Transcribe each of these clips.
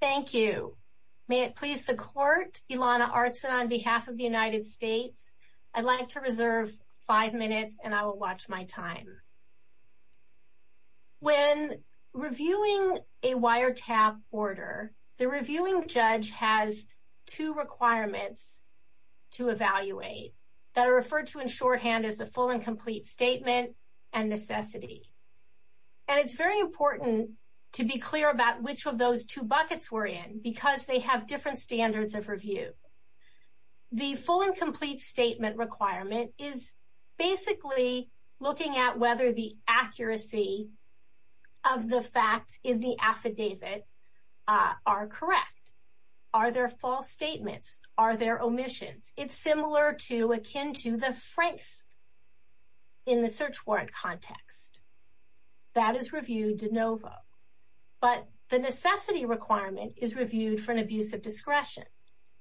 Thank you. May it please the court, Ilana Artson on behalf of the United States, I'd like to reserve five minutes and I will watch my time. When reviewing a wiretap order, the reviewing judge has two requirements to evaluate that are referred to in shorthand as the full and complete statement and necessity. And it's very important to be clear about which of those two buckets we're in because they have different standards of review. The full and complete statement requirement is basically looking at whether the accuracy of the facts in the affidavit are correct. Are there false statements? Are there omissions? It's similar to akin to the francs in the search warrant context. That is reviewed de novo. But the necessity requirement is reviewed for an abuse of discretion.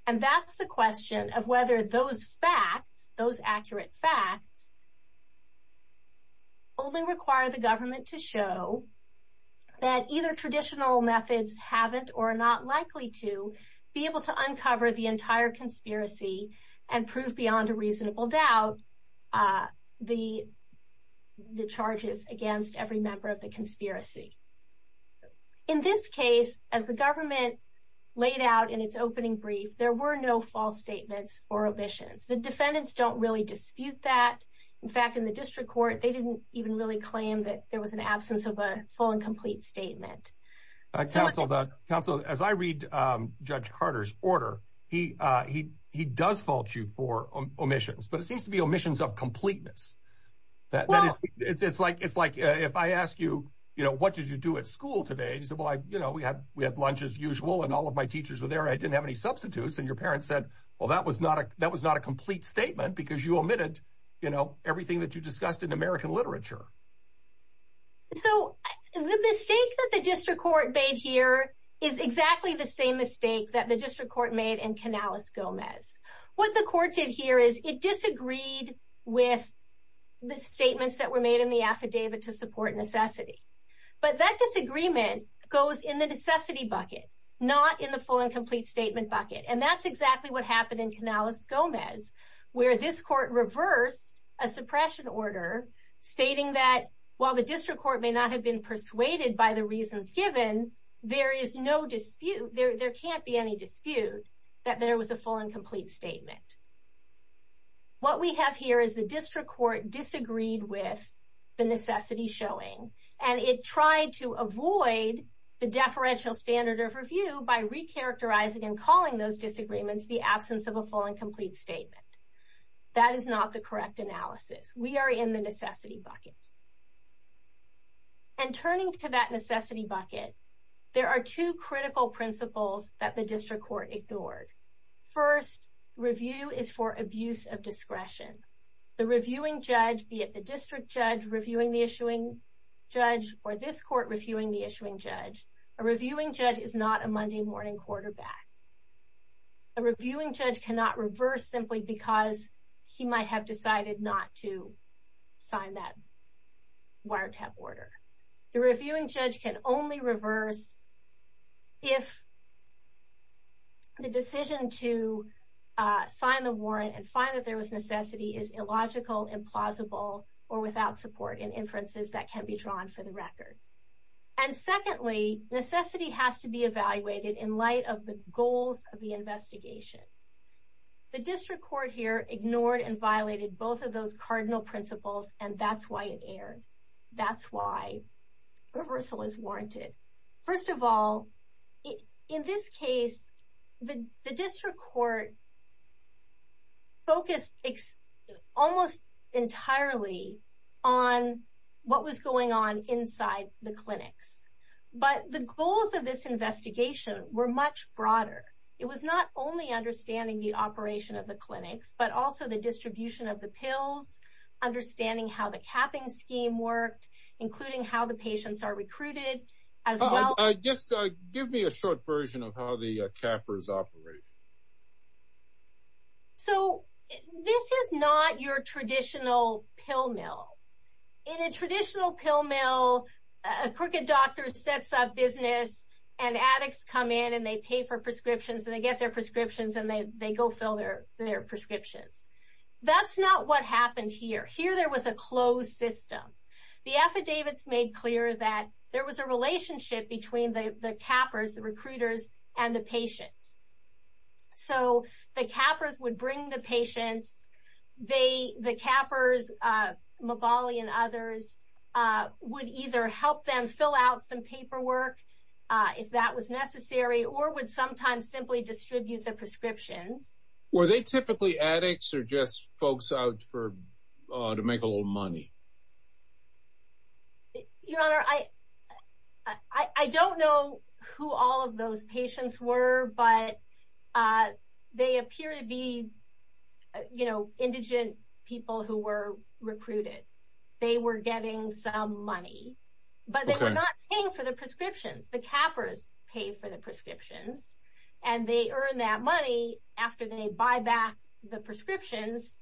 And that's the question of whether those facts, those accurate facts, only require the government to show that either traditional methods haven't or are not likely to be able to uncover the entire conspiracy and prove beyond a reasonable doubt the charges against every member of the conspiracy. In this case, as the government laid out in its opening brief, there were no false statements or omissions. The defendants don't really dispute that. In fact, in the district court, they didn't even really claim that there was an absence of a full and complete statement. Counsel, as I read Judge Carter's order, he does fault you for omissions, but it seems to be omissions of completeness. It's like if I ask you, what did you do at school today? You said, well, we had lunch as usual and all of my teachers were there. I didn't have any substitutes. And your parents said, well, that was not a complete statement because you omitted everything that you discussed in American literature. So the mistake that the district court made here is exactly the same mistake that the district court made in Canales Gomez. What the court did here is it disagreed with the statements that were made in the affidavit to support necessity. But that disagreement goes in the necessity bucket, not in the full and complete statement bucket. And that's exactly what happened in Canales Gomez, where this court reversed a suppression order, stating that while the district court may not have been persuaded by the reasons given, there is no dispute. There can't be any dispute that there was a full and complete statement. What we have here is the district court disagreed with the necessity showing, and it tried to avoid the deferential standard of review by recharacterizing and calling those disagreements the absence of a full and complete statement. That is not the correct analysis. We are in the necessity bucket. And turning to that necessity bucket, there are two critical principles that the district court ignored. First, review is for abuse of discretion. The reviewing judge, be it the district judge reviewing the issuing judge or this court reviewing the issuing judge, a reviewing judge is not a Monday morning quarterback. A reviewing judge cannot reverse simply because he might have decided not to sign that wiretap order. The reviewing judge can only reverse if the decision to sign the warrant and find that there was necessity is illogical, implausible, or without support in inferences that can be drawn for the record. And secondly, necessity has to be evaluated in light of the goals of the investigation. The district court here ignored and violated both of those cardinal principles, and that's why it erred. That's why reversal is warranted. First of all, in this case, the district court focused almost entirely on what was going on inside the clinics. But the goals of this investigation were much broader. It was not only understanding the operation of the clinics, but also the distribution of the pills, understanding how the capping scheme worked, including how the patients are recruited as well. Just give me a short version of how the cappers operate. So this is not your traditional pill mill. In a traditional pill mill, a crooked doctor sets up business and addicts come in and they pay for prescriptions and they get their prescriptions and they go fill their prescriptions. That's not what happened here. Here there was a closed system. The affidavits made clear that there was a relationship between the cappers, the recruiters, and the patients. So the cappers would bring the patients. The cappers, Mabali and others, would either help them fill out some paperwork if that was necessary, or would sometimes simply distribute the prescriptions. Were they typically addicts or just folks out to make a little money? Your Honor, I don't know who all of those patients were, but they appear to be indigent people who were recruited. They were getting some money, but they were not paying for the prescriptions. The cappers pay for the prescriptions and they earn that money after they buy back the prescriptions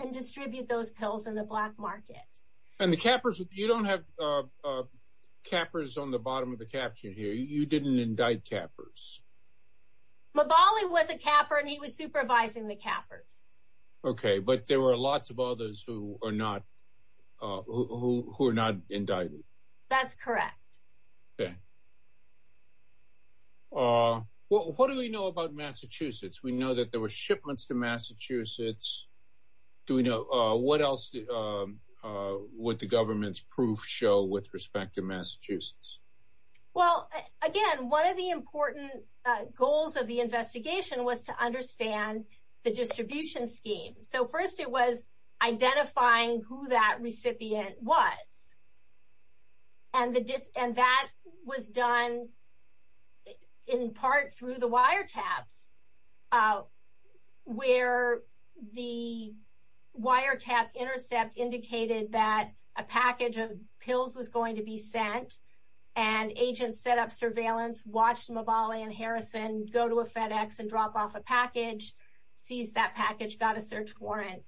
and distribute those pills in the black market. And the cappers, you don't have cappers on the bottom of the caption here. You didn't indict cappers. Mabali was a capper and he was supervising the cappers. Okay, but there were lots of others who were not indicted. That's correct. Okay. What do we know about Massachusetts? We know that there were shipments to Massachusetts. What else would the government's proof show with respect to Massachusetts? Well, again, one of the important goals of the investigation was to understand the distribution scheme. So first it was identifying who that recipient was. And that was done in part through the wiretaps, where the wiretap intercept indicated that a package of pills was going to be sent and agents set up surveillance, watched Mabali and Harrison go to a FedEx and drop off a package, seized that package, got a search warrant,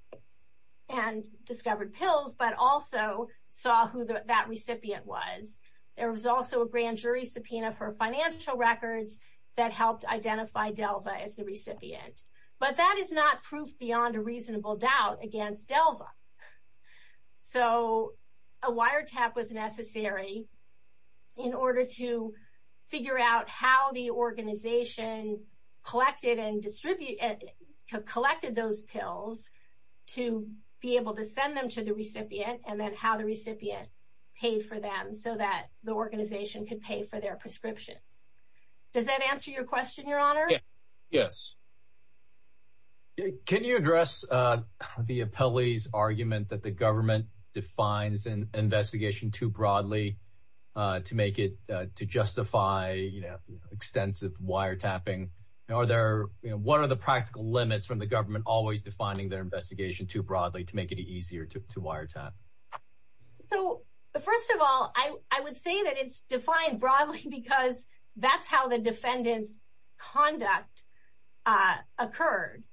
and discovered pills, but also saw who that recipient was. There was also a grand jury subpoena for financial records that helped identify Delva as the recipient. But that is not proof beyond a reasonable doubt against Delva. So a wiretap was necessary in order to figure out how the organization collected those pills to be able to send them to the recipient and then how the recipient paid for them so that the organization could pay for their prescriptions. Does that answer your question, Your Honor? Yes. Can you address the appellee's argument that the government defines an investigation too broadly to justify extensive wiretapping? What are the practical limits from the government always defining their investigation too broadly to make it easier to wiretap? So, first of all, I would say that it's defined broadly because that's how the defendant's conduct occurred.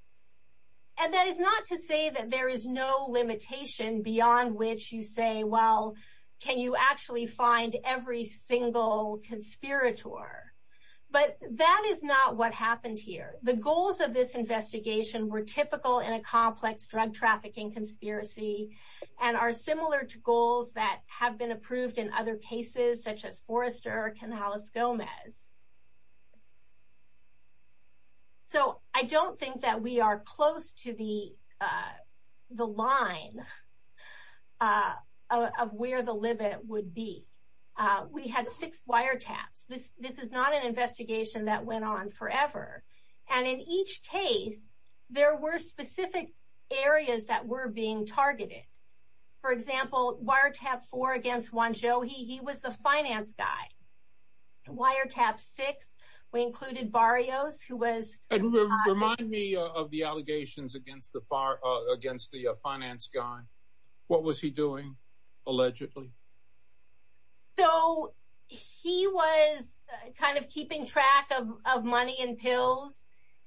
And that is not to say that there is no limitation beyond which you say, well, can you actually find every single conspirator? But that is not what happened here. The goals of this investigation were typical in a complex drug trafficking conspiracy and are similar to goals that have been approved in other cases such as Forrester or Canales-Gomez. So I don't think that we are close to the line of where the limit would be. We had six wiretaps. This is not an investigation that went on forever. And in each case, there were specific areas that were being targeted. For example, wiretap four against Juan Joji, he was the finance guy. Wiretap six, we included Barrios, who was… Remind me of the allegations against the finance guy. What was he doing, allegedly? So, he was kind of keeping track of money and pills.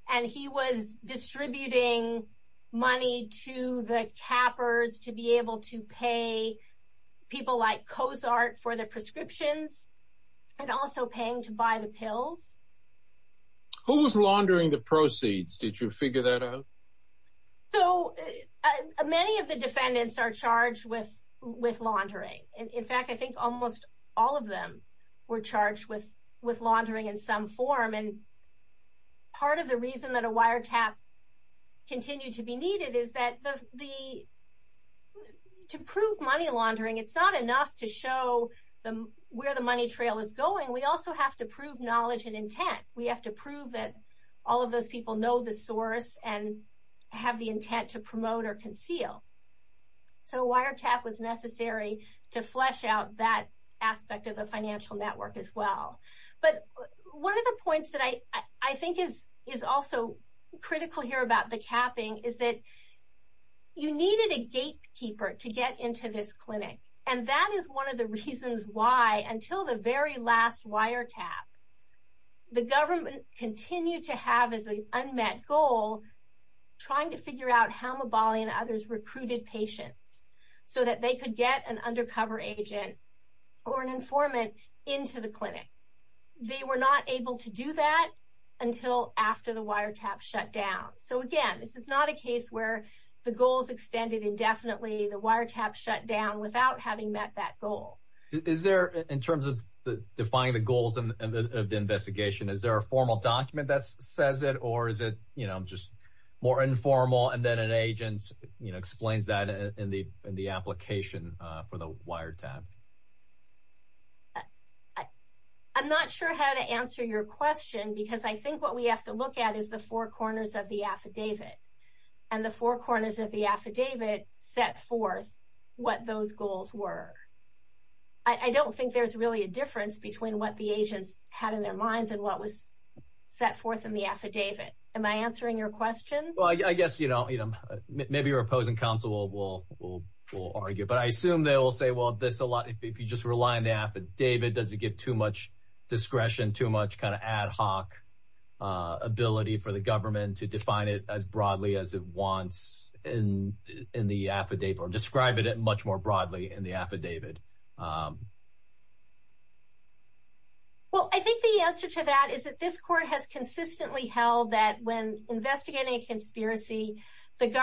And he was distributing money to the cappers to be able to pay people like Cozart for their prescriptions and also paying to buy the pills. Who was laundering the proceeds? Did you figure that out? So, many of the defendants are charged with laundering. In fact, I think almost all of them were charged with laundering in some form. And part of the reason that a wiretap continued to be needed is that to prove money laundering, it's not enough to show where the money trail is going. We also have to prove knowledge and intent. We have to prove that all of those people know the source and have the intent to promote or conceal. So, wiretap was necessary to flesh out that aspect of the financial network as well. But one of the points that I think is also critical here about the capping is that you needed a gatekeeper to get into this clinic. And that is one of the reasons why until the very last wiretap, the government continued to have as an unmet goal trying to figure out how Mabali and others recruited patients so that they could get an undercover agent or an informant into the clinic. They were not able to do that until after the wiretap shut down. So, again, this is not a case where the goal is extended indefinitely. The wiretap shut down without having met that goal. Is there, in terms of defining the goals of the investigation, is there a formal document that says it? Or is it just more informal and then an agent explains that in the application for the wiretap? I'm not sure how to answer your question because I think what we have to look at is the four corners of the what those goals were. I don't think there's really a difference between what the agents had in their minds and what was set forth in the affidavit. Am I answering your question? Well, I guess, you know, maybe your opposing counsel will argue. But I assume they will say, well, if you just rely on the affidavit, does it give too much discretion, too much kind of ad hoc ability for the government to define it as broadly as it wants in the affidavit or describe it much more broadly in the affidavit? Well, I think the answer to that is that this court has consistently held that when investigating a conspiracy, the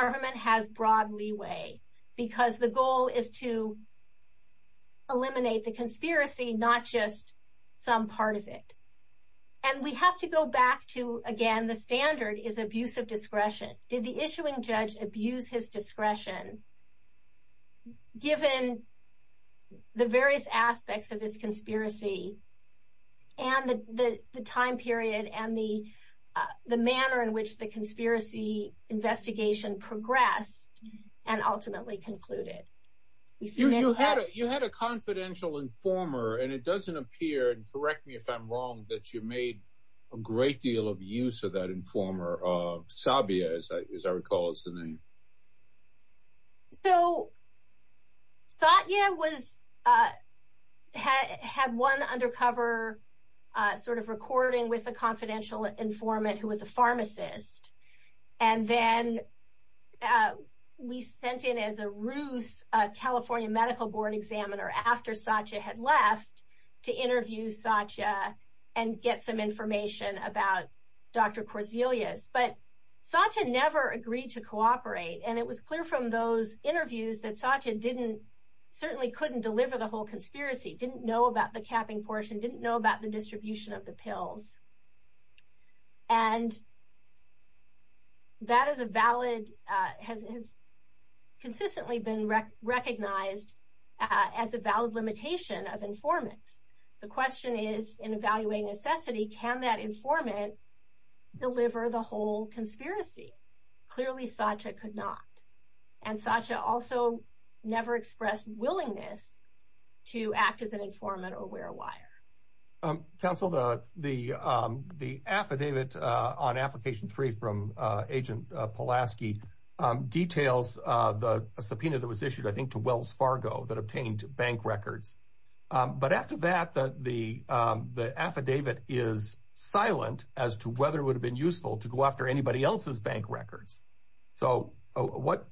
And we have to go back to, again, the standard is abuse of discretion. Did the issuing judge abuse his discretion given the various aspects of his conspiracy and the time period and the manner in which the conspiracy investigation progressed and ultimately concluded? You had a confidential informer, and it doesn't appear, and correct me if I'm wrong, that you made a great deal of use of that informer of Sabia, as I recall is the name. So Satya had one undercover sort of recording with a confidential informant who was a pharmacist. And then we sent in as a ruse a California medical board examiner after Satya had left to interview Satya and get some information about Dr. Corzelius. But Satya never agreed to cooperate. And it was clear from those interviews that Satya certainly couldn't deliver the whole conspiracy, didn't know about the capping portion, didn't know about the distribution of the pills. And that is a valid, has consistently been recognized as a valid limitation of informants. The question is, in evaluating necessity, can that informant deliver the whole conspiracy? Clearly, Satya could not. And Satya also never expressed willingness to act as an informant or wear a wire. Counsel, the affidavit on application three from Agent Pulaski details the subpoena that was issued, I think, to Wells Fargo that obtained bank records. But after that, the affidavit is silent as to whether it would have been useful to go after anybody else's bank records. So what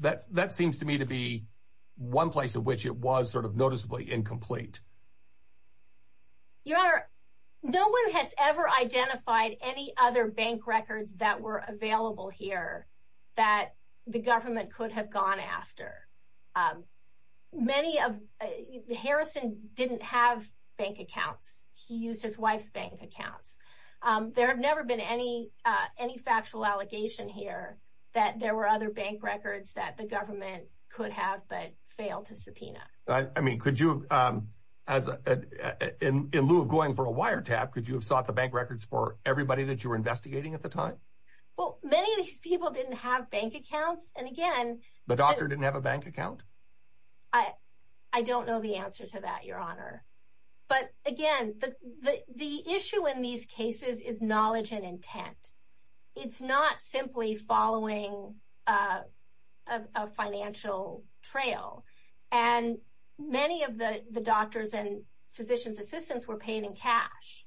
that that seems to me to be one place in which it was sort of noticeably incomplete. Your Honor, no one has ever identified any other bank records that were available here that the government could have gone after. Many of the Harrison didn't have bank accounts. He used his wife's bank accounts. There have never been any any factual allegation here that there were other bank records that the government could have but failed to subpoena. I mean, could you, as in lieu of going for a wiretap, could you have sought the bank records for everybody that you were investigating at the time? Well, many of these people didn't have bank accounts. And again, the doctor didn't have a bank account. I don't know the answer to that, Your Honor. But again, the issue in these cases is knowledge and intent. It's not simply following a financial trail. And many of the doctors and physicians assistants were paid in cash.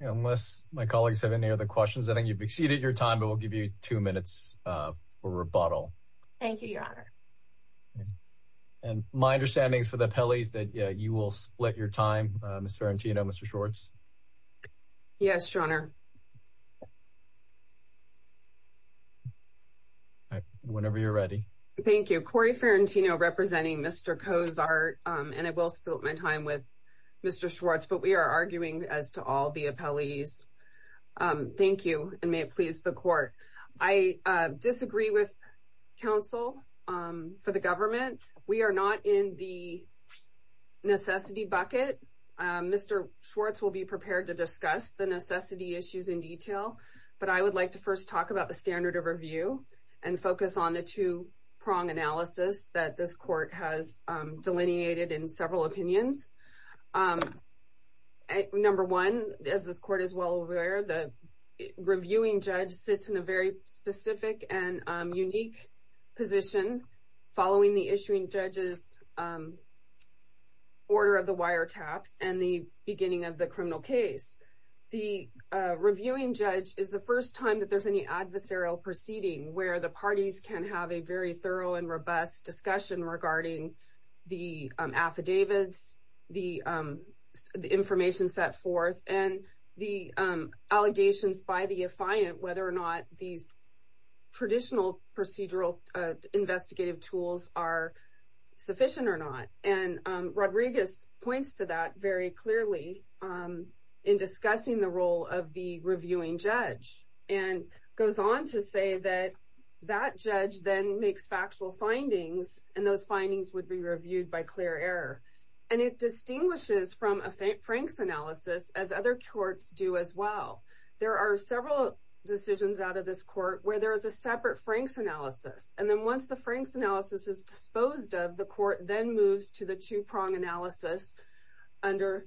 Unless my colleagues have any other questions, I think you've exceeded your time, but we'll give you two minutes for rebuttal. Thank you, Your Honor. And my understanding is for the appellees that you will split your time. Ms. Ferrantino, Mr. Schwartz. Yes, Your Honor. Whenever you're ready. Thank you. Corey Ferrantino representing Mr. Cozart. And I will split my time with Mr. Schwartz, but we are arguing as to all the appellees. Thank you. And may it please the court. I disagree with counsel for the government. We are not in the necessity bucket. Mr. Schwartz will be prepared to discuss the necessity issues in detail. But I would like to first talk about the standard of review and focus on the two-prong analysis that this court has delineated in several opinions. Number one, as this court is well aware, the reviewing judge sits in a very specific and unique position following the issuing judge's order of the wiretaps and the beginning of the criminal case. The reviewing judge is the first time that there's any adversarial proceeding where the parties can have a very thorough and robust discussion regarding the affidavits, the information set forth, and the allegations by the affiant whether or not these traditional procedural investigative tools are sufficient or not. And Rodriguez points to that very clearly in discussing the role of the reviewing judge and goes on to say that that judge then makes factual findings and those findings would be reviewed by clear error. And it distinguishes from a franks analysis as other courts do as well. There are several decisions out of this court where there is a separate franks analysis. And then once the franks analysis is disposed of, the court then moves to the two-prong analysis under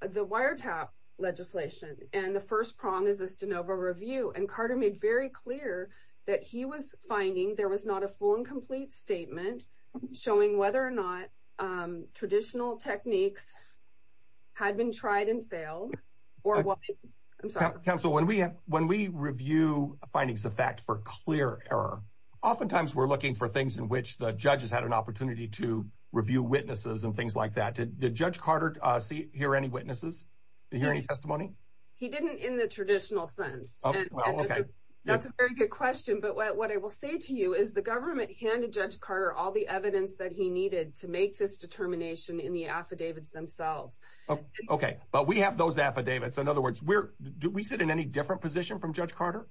the wiretap legislation. And the first prong is the Stanova review. And Carter made very clear that he was finding there was not a full and complete statement showing whether or not traditional techniques had been tried and failed. Counsel, when we review findings of fact for clear error, oftentimes we're looking for things in which the judges had an opportunity to review witnesses and things like that. Did Judge Carter hear any witnesses? Did he hear any testimony? He didn't in the traditional sense. That's a very good question. But what I will say to you is the government handed Judge Carter all the evidence that he needed to make this determination in the affidavits themselves. Okay, but we have those affidavits. In other words, do we sit in any different position from Judge Carter?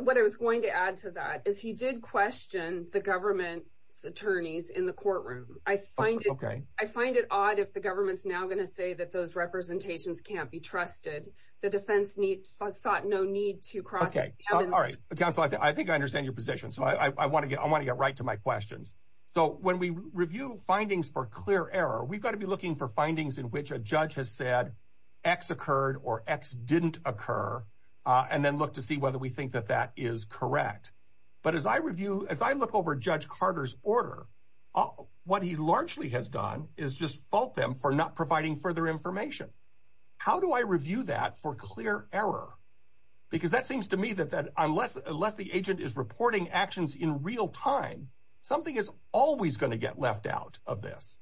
What I was going to add to that is he did question the government's attorneys in the courtroom. I find it odd if the government's now going to say that those representations can't be trusted. The defense sought no need to cross it. Okay, all right. Counsel, I think I understand your position. So I want to get right to my questions. So when we review findings for clear error, we've got to be looking for findings in which a judge has said X occurred or X didn't occur and then look to see whether we think that that is correct. But as I review, as I look over Judge Carter's order, what he largely has done is just fault them for not providing further information. How do I review that for clear error? Because that seems to me that unless the agent is reporting actions in real time, something is always going to get left out of this.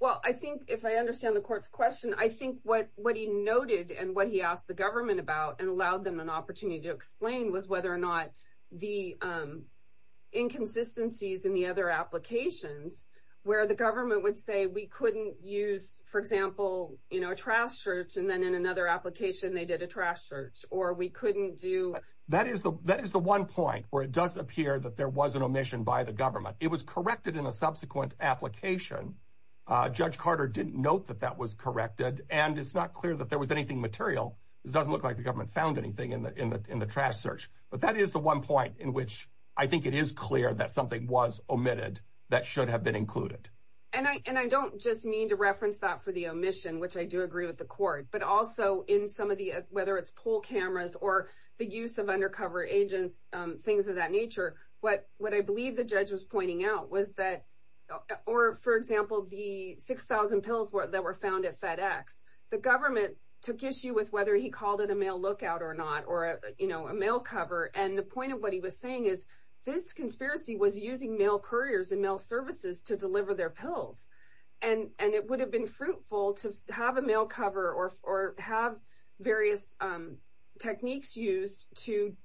Well, I think if I understand the court's question, I think what he noted and what he asked the government about and allowed them an opportunity to explain was whether or not the inconsistencies in the other applications, where the government would say we couldn't use, for example, a trash search and then in another application they did a trash search or we couldn't do. That is the one point where it does appear that there was an omission by the government. It was corrected in a subsequent application. Judge Carter didn't note that that was corrected, and it's not clear that there was anything material. It doesn't look like the government found anything in the trash search. But that is the one point in which I think it is clear that something was omitted that should have been included. And I don't just mean to reference that for the omission, which I do agree with the court, but also in some of the whether it's pool cameras or the use of undercover agents, things of that nature. What I believe the judge was pointing out was that, or for example, the 6,000 pills that were found at FedEx, the government took issue with whether he called it a mail lookout or not, or a mail cover. And the point of what he was saying is this conspiracy was using mail couriers and mail services to deliver their pills. And it would have been fruitful to have a mail cover or have various techniques used to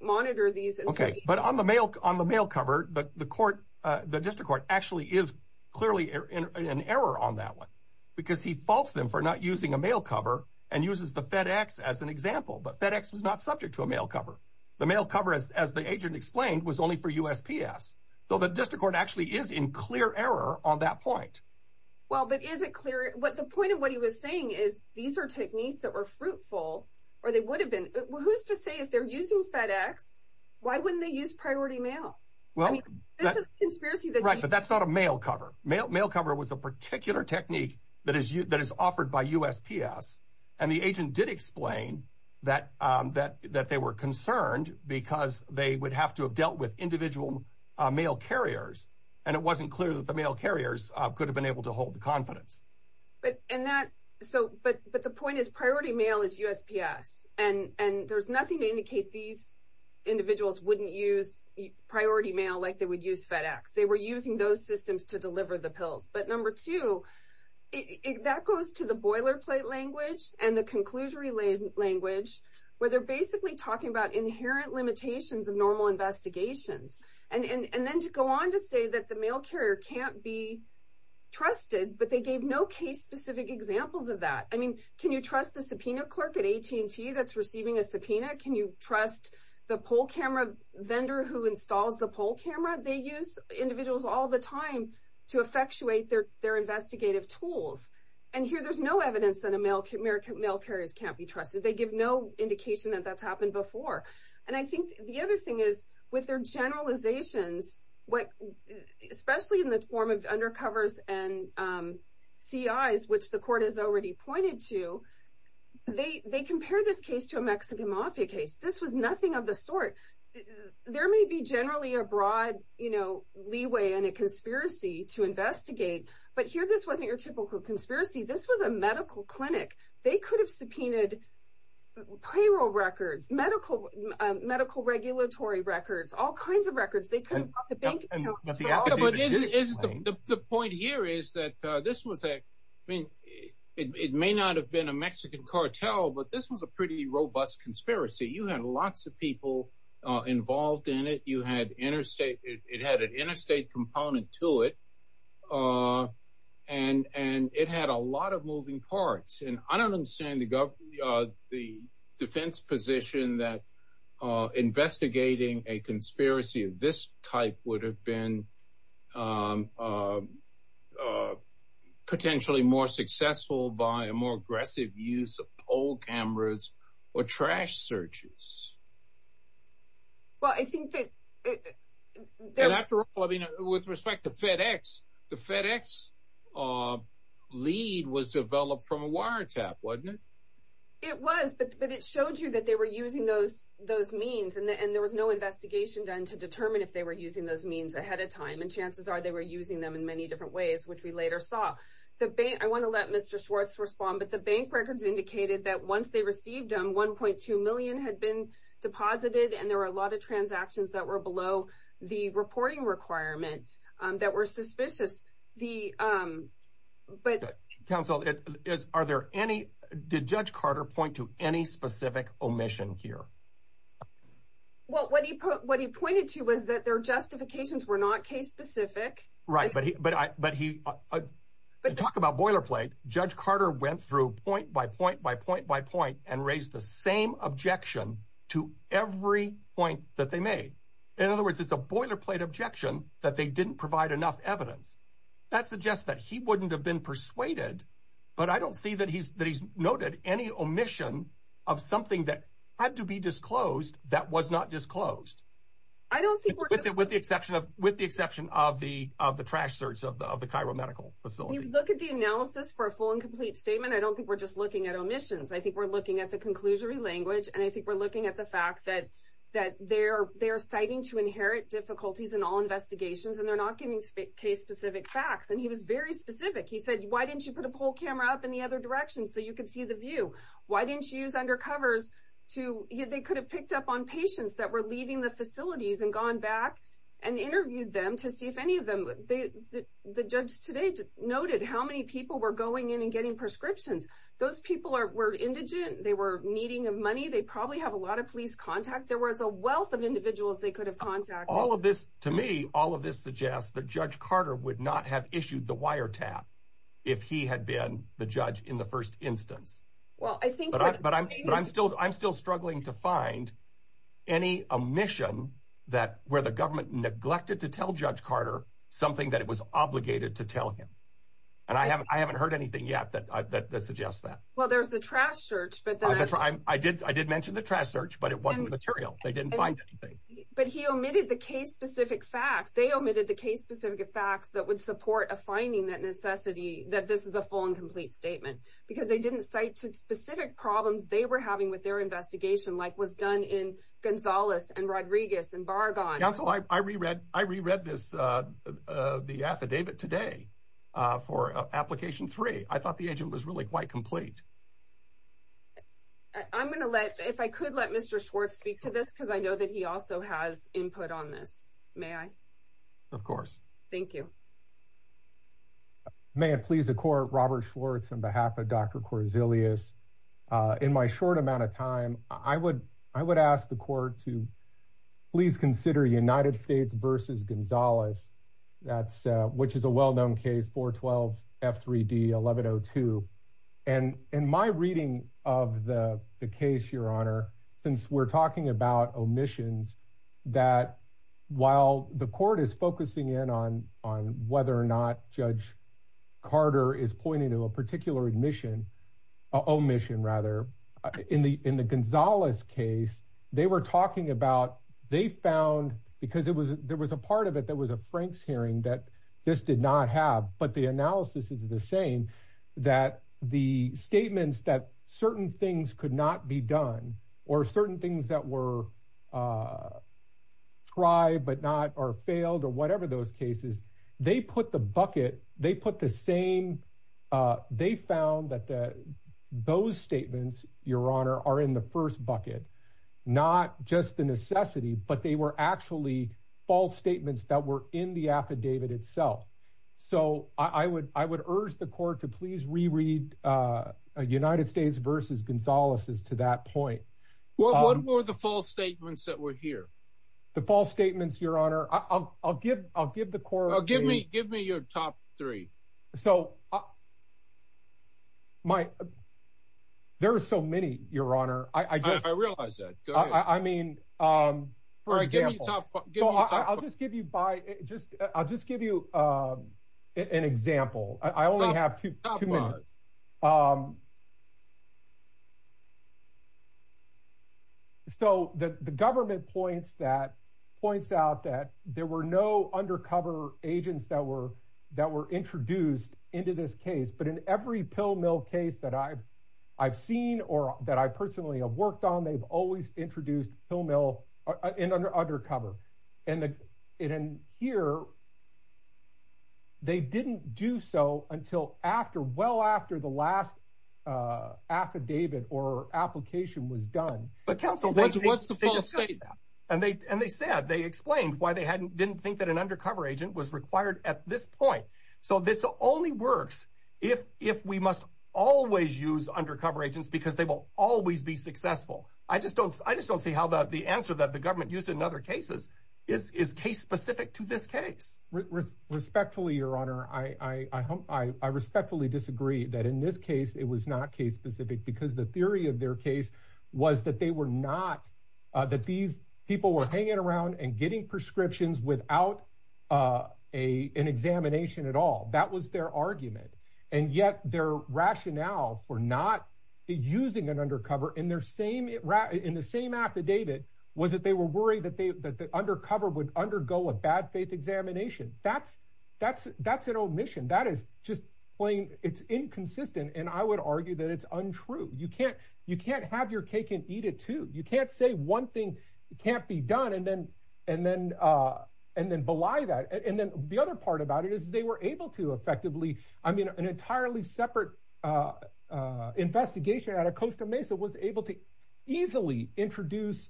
monitor these. OK, but on the mail on the mail cover, the court, the district court actually is clearly in an error on that one because he faults them for not using a mail cover and uses the FedEx as an example. But FedEx was not subject to a mail cover. The mail cover, as the agent explained, was only for USPS, though the district court actually is in clear error on that point. Well, but is it clear what the point of what he was saying is these are techniques that were fruitful or they would have been. Who's to say if they're using FedEx, why wouldn't they use priority mail? Well, this is a conspiracy. Right. But that's not a mail cover. Mail cover was a particular technique that is that is offered by USPS. And the agent did explain that that that they were concerned because they would have to have dealt with individual mail carriers. And it wasn't clear that the mail carriers could have been able to hold the confidence. But and that so but but the point is, priority mail is USPS. And and there's nothing to indicate these individuals wouldn't use priority mail like they would use FedEx. But number two, that goes to the boilerplate language and the conclusion related language where they're basically talking about inherent limitations of normal investigations. And then to go on to say that the mail carrier can't be trusted, but they gave no case specific examples of that. I mean, can you trust the subpoena clerk at AT&T that's receiving a subpoena? Can you trust the poll camera vendor who installs the poll camera? They use individuals all the time to effectuate their their investigative tools. And here there's no evidence that American mail carriers can't be trusted. They give no indication that that's happened before. And I think the other thing is with their generalizations, what especially in the form of undercovers and CIs, which the court has already pointed to, they they compare this case to a Mexican mafia case. This was nothing of the sort. There may be generally a broad, you know, leeway and a conspiracy to investigate. But here this wasn't your typical conspiracy. This was a medical clinic. They could have subpoenaed payroll records, medical, medical regulatory records, all kinds of records. They couldn't have the bank accounts. The point here is that this was a it may not have been a Mexican cartel, but this was a pretty robust conspiracy. You had lots of people involved in it. You had interstate. It had an interstate component to it. And and it had a lot of moving parts. And I don't understand the the defense position that investigating a conspiracy of this type would have been potentially more successful by a more aggressive use of old cameras or trash searches. Well, I think that after all, I mean, with respect to FedEx, the FedEx lead was developed from a wiretap, wasn't it? It was, but it showed you that they were using those those means. And there was no investigation done to determine if they were using those means ahead of time. And chances are they were using them in many different ways, which we later saw. The bank I want to let Mr. Schwartz respond, but the bank records indicated that once they received them, one point two million had been deposited. And there were a lot of transactions that were below the reporting requirement that were suspicious. The but counsel, are there any did Judge Carter point to any specific omission here? Well, what he what he pointed to was that their justifications were not case specific. Right. But but but he but talk about boilerplate. Judge Carter went through point by point by point by point and raised the same objection to every point that they made. In other words, it's a boilerplate objection that they didn't provide enough evidence that suggests that he wouldn't have been persuaded. But I don't see that he's that he's noted any omission of something that had to be disclosed that was not disclosed. I don't think with it, with the exception of with the exception of the of the trash search of the of the Cairo Medical Facility. Look at the analysis for a full and complete statement. I don't think we're just looking at omissions. I think we're looking at the conclusionary language. And I think we're looking at the fact that that they're they're citing to inherit difficulties in all investigations. And they're not giving case specific facts. And he was very specific. He said, why didn't you put a poll camera up in the other direction so you could see the view? Why didn't you use undercovers to you? They could have picked up on patients that were leaving the facilities and gone back and interviewed them to see if any of them. The judge today noted how many people were going in and getting prescriptions. Those people were indigent. They were needing money. They probably have a lot of police contact. There was a wealth of individuals they could have contact. All of this to me, all of this suggests that Judge Carter would not have issued the wire tap if he had been the judge in the first instance. Well, I think, but I'm but I'm still I'm still struggling to find any omission that where the government neglected to tell Judge Carter something that it was obligated to tell him. And I haven't I haven't heard anything yet that suggests that. Well, there's the trash search, but I did. I did mention the trash search, but it wasn't material. They didn't find anything, but he omitted the case specific facts. They omitted the case specific facts that would support a finding that necessity, that this is a full and complete statement. Because they didn't cite to specific problems they were having with their investigation, like was done in Gonzalez and Rodriguez and Bargon. I reread. I reread this. The affidavit today for application three. I thought the agent was really quite complete. I'm going to let if I could let Mr. Schwartz speak to this, because I know that he also has input on this. May I? Of course. Thank you. May it please the court. Robert Schwartz on behalf of Dr. Corzillus. In my short amount of time, I would I would ask the court to please consider United States versus Gonzalez. That's which is a well-known case for 12 F3D 1102. And in my reading of the case, your honor, since we're talking about omissions that while the court is focusing in on on whether or not Judge Carter is pointing to a particular admission. Oh, mission rather in the in the Gonzalez case they were talking about. They found because it was there was a part of it that was a Frank's hearing that this did not have. But the analysis is the same that the statements that certain things could not be done or certain things that were. Try but not or failed or whatever those cases, they put the bucket, they put the same. They found that those statements, your honor, are in the first bucket, not just the necessity, but they were actually false statements that were in the affidavit itself. So I would I would urge the court to please reread United States versus Gonzalez's to that point. What were the false statements that were here? The false statements, your honor, I'll give I'll give the court. Give me give me your top three. So. My. There are so many, your honor, I realize that I mean, for example, I'll just give you by just I'll just give you an example. I only have to. So the government points that points out that there were no undercover agents that were that were introduced into this case. But in every pill mill case that I've I've seen or that I personally have worked on, they've always introduced pill mill undercover. And in here. They didn't do so until after well, after the last affidavit or application was done. But counsel was supposed to say that. And they and they said they explained why they hadn't didn't think that an undercover agent was required at this point. So this only works if if we must always use undercover agents because they will always be successful. I just don't I just don't see how that the answer that the government used in other cases is is case specific to this case. Respectfully, your honor, I, I, I, I respectfully disagree that in this case it was not case specific because the theory of their case was that they were not that these people were hanging around and getting prescriptions without a an examination at all. That was their argument. And yet their rationale for not using an undercover in their same in the same affidavit was that they were worried that they that the undercover would undergo a bad faith examination. That's that's that's an omission. That is just plain it's inconsistent. And I would argue that it's untrue. You can't you can't have your cake and eat it, too. You can't say one thing can't be done. And then and then and then belie that. And then the other part about it is they were able to effectively. I mean, an entirely separate investigation out of Costa Mesa was able to easily introduce.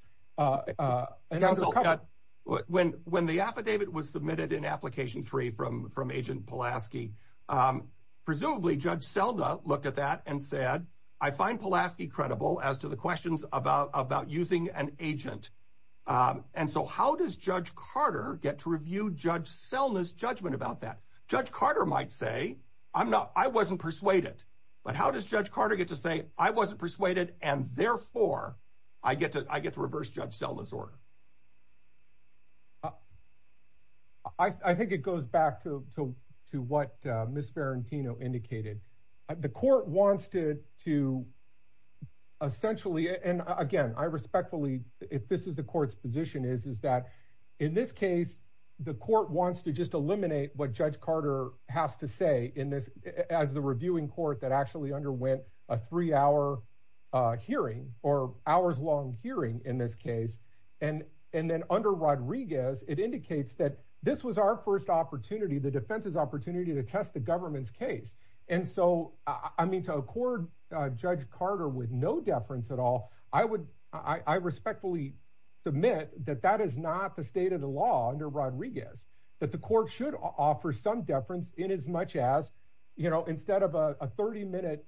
When when the affidavit was submitted in application three from from agent Pulaski, presumably Judge Selma looked at that and said, I find Pulaski credible as to the questions about about using an agent. And so how does Judge Carter get to review Judge Selma's judgment about that? Judge Carter might say, I'm not I wasn't persuaded. But how does Judge Carter get to say I wasn't persuaded and therefore I get to I get to reverse Judge Selma's order? I think it goes back to to to what Miss Ferrantino indicated. The court wants to to essentially and again, I respectfully if this is the court's position is, is that in this case, the court wants to just eliminate what Judge Carter has to say in this as the reviewing court that actually underwent a three hour hearing or hours long hearing in this case. And and then under Rodriguez, it indicates that this was our first opportunity, the defense's opportunity to test the government's case. And so, I mean, to accord Judge Carter with no deference at all, I would I respectfully submit that that is not the state of the law under Rodriguez, that the court should offer some deference in as much as, you know, instead of a 30 minute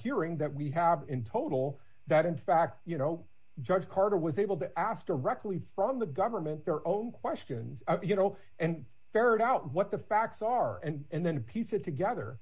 hearing that we have in total. That in fact, you know, Judge Carter was able to ask directly from the government their own questions, you know, and ferret out what the facts are and and then piece it together.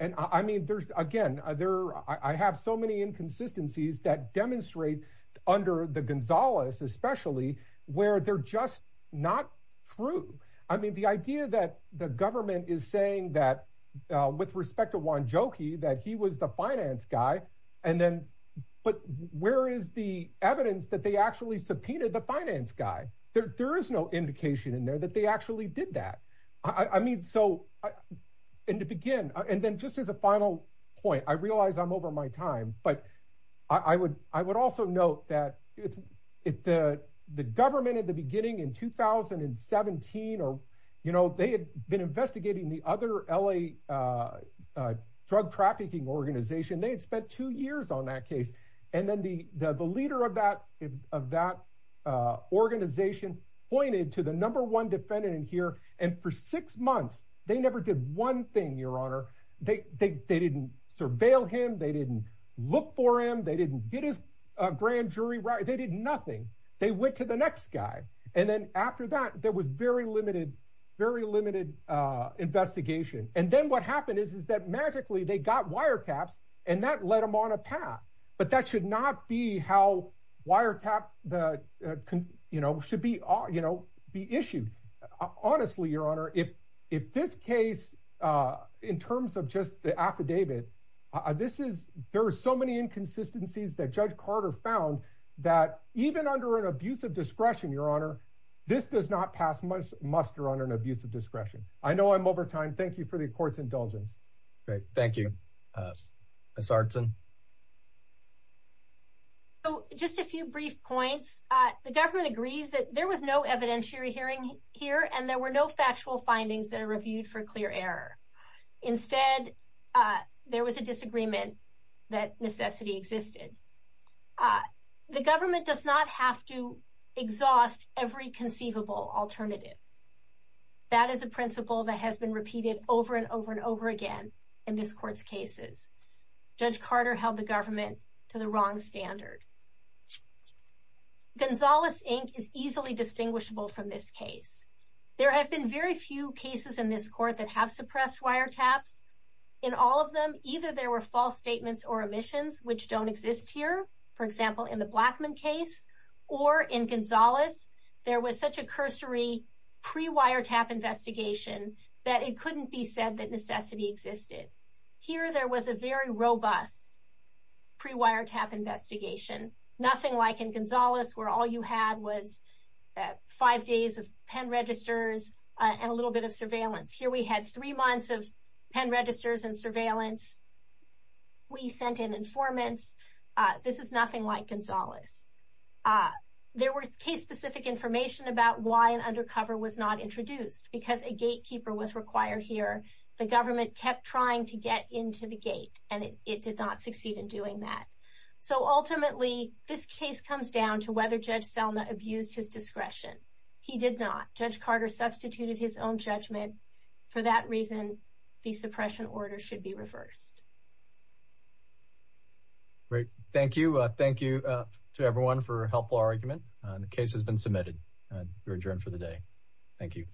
And I mean, there's again there I have so many inconsistencies that demonstrate under the Gonzalez, especially where they're just not true. I mean, the idea that the government is saying that with respect to one jokey that he was the finance guy. And then but where is the evidence that they actually subpoenaed the finance guy? There is no indication in there that they actually did that. I mean, so and to begin and then just as a final point, I realize I'm over my time, but I would I would also note that if the government at the beginning in 2017 or, you know, they had been investigating the other L.A. Drug trafficking organization, they had spent two years on that case. And then the the leader of that of that organization pointed to the number one defendant in here. And for six months, they never did one thing, Your Honor. They they didn't surveil him. They didn't look for him. They didn't get his grand jury right. They did nothing. They went to the next guy. And then after that, there was very limited, very limited investigation. And then what happened is, is that magically they got wiretaps and that led them on a path. But that should not be how wiretap the, you know, should be, you know, be issued. Honestly, Your Honor, if if this case in terms of just the affidavit, this is there are so many inconsistencies that Judge Carter found that even under an abuse of discretion, Your Honor, this does not pass much muster on an abuse of discretion. I know I'm over time. Thank you for the court's indulgence. Thank you. So just a few brief points. The government agrees that there was no evidentiary hearing here and there were no factual findings that are reviewed for clear error. Instead, there was a disagreement that necessity existed. The government does not have to exhaust every conceivable alternative. That is a principle that has been repeated over and over and over again. In this court's cases, Judge Carter held the government to the wrong standard. Gonzales, Inc. is easily distinguishable from this case. There have been very few cases in this court that have suppressed wiretaps. In all of them, either there were false statements or omissions, which don't exist here. For example, in the Blackman case or in Gonzales, there was such a cursory pre-wiretap investigation that it couldn't be said that necessity existed. Here, there was a very robust pre-wiretap investigation. Nothing like in Gonzales, where all you had was five days of pen registers and a little bit of surveillance. Here, we had three months of pen registers and surveillance. We sent in informants. This is nothing like Gonzales. There was case-specific information about why an undercover was not introduced. Because a gatekeeper was required here, the government kept trying to get into the gate, and it did not succeed in doing that. Ultimately, this case comes down to whether Judge Selma abused his discretion. He did not. Judge Carter substituted his own judgment. For that reason, the suppression order should be reversed. Great. Thank you. Thank you to everyone for a helpful argument. The case has been submitted. You're adjourned for the day. Thank you.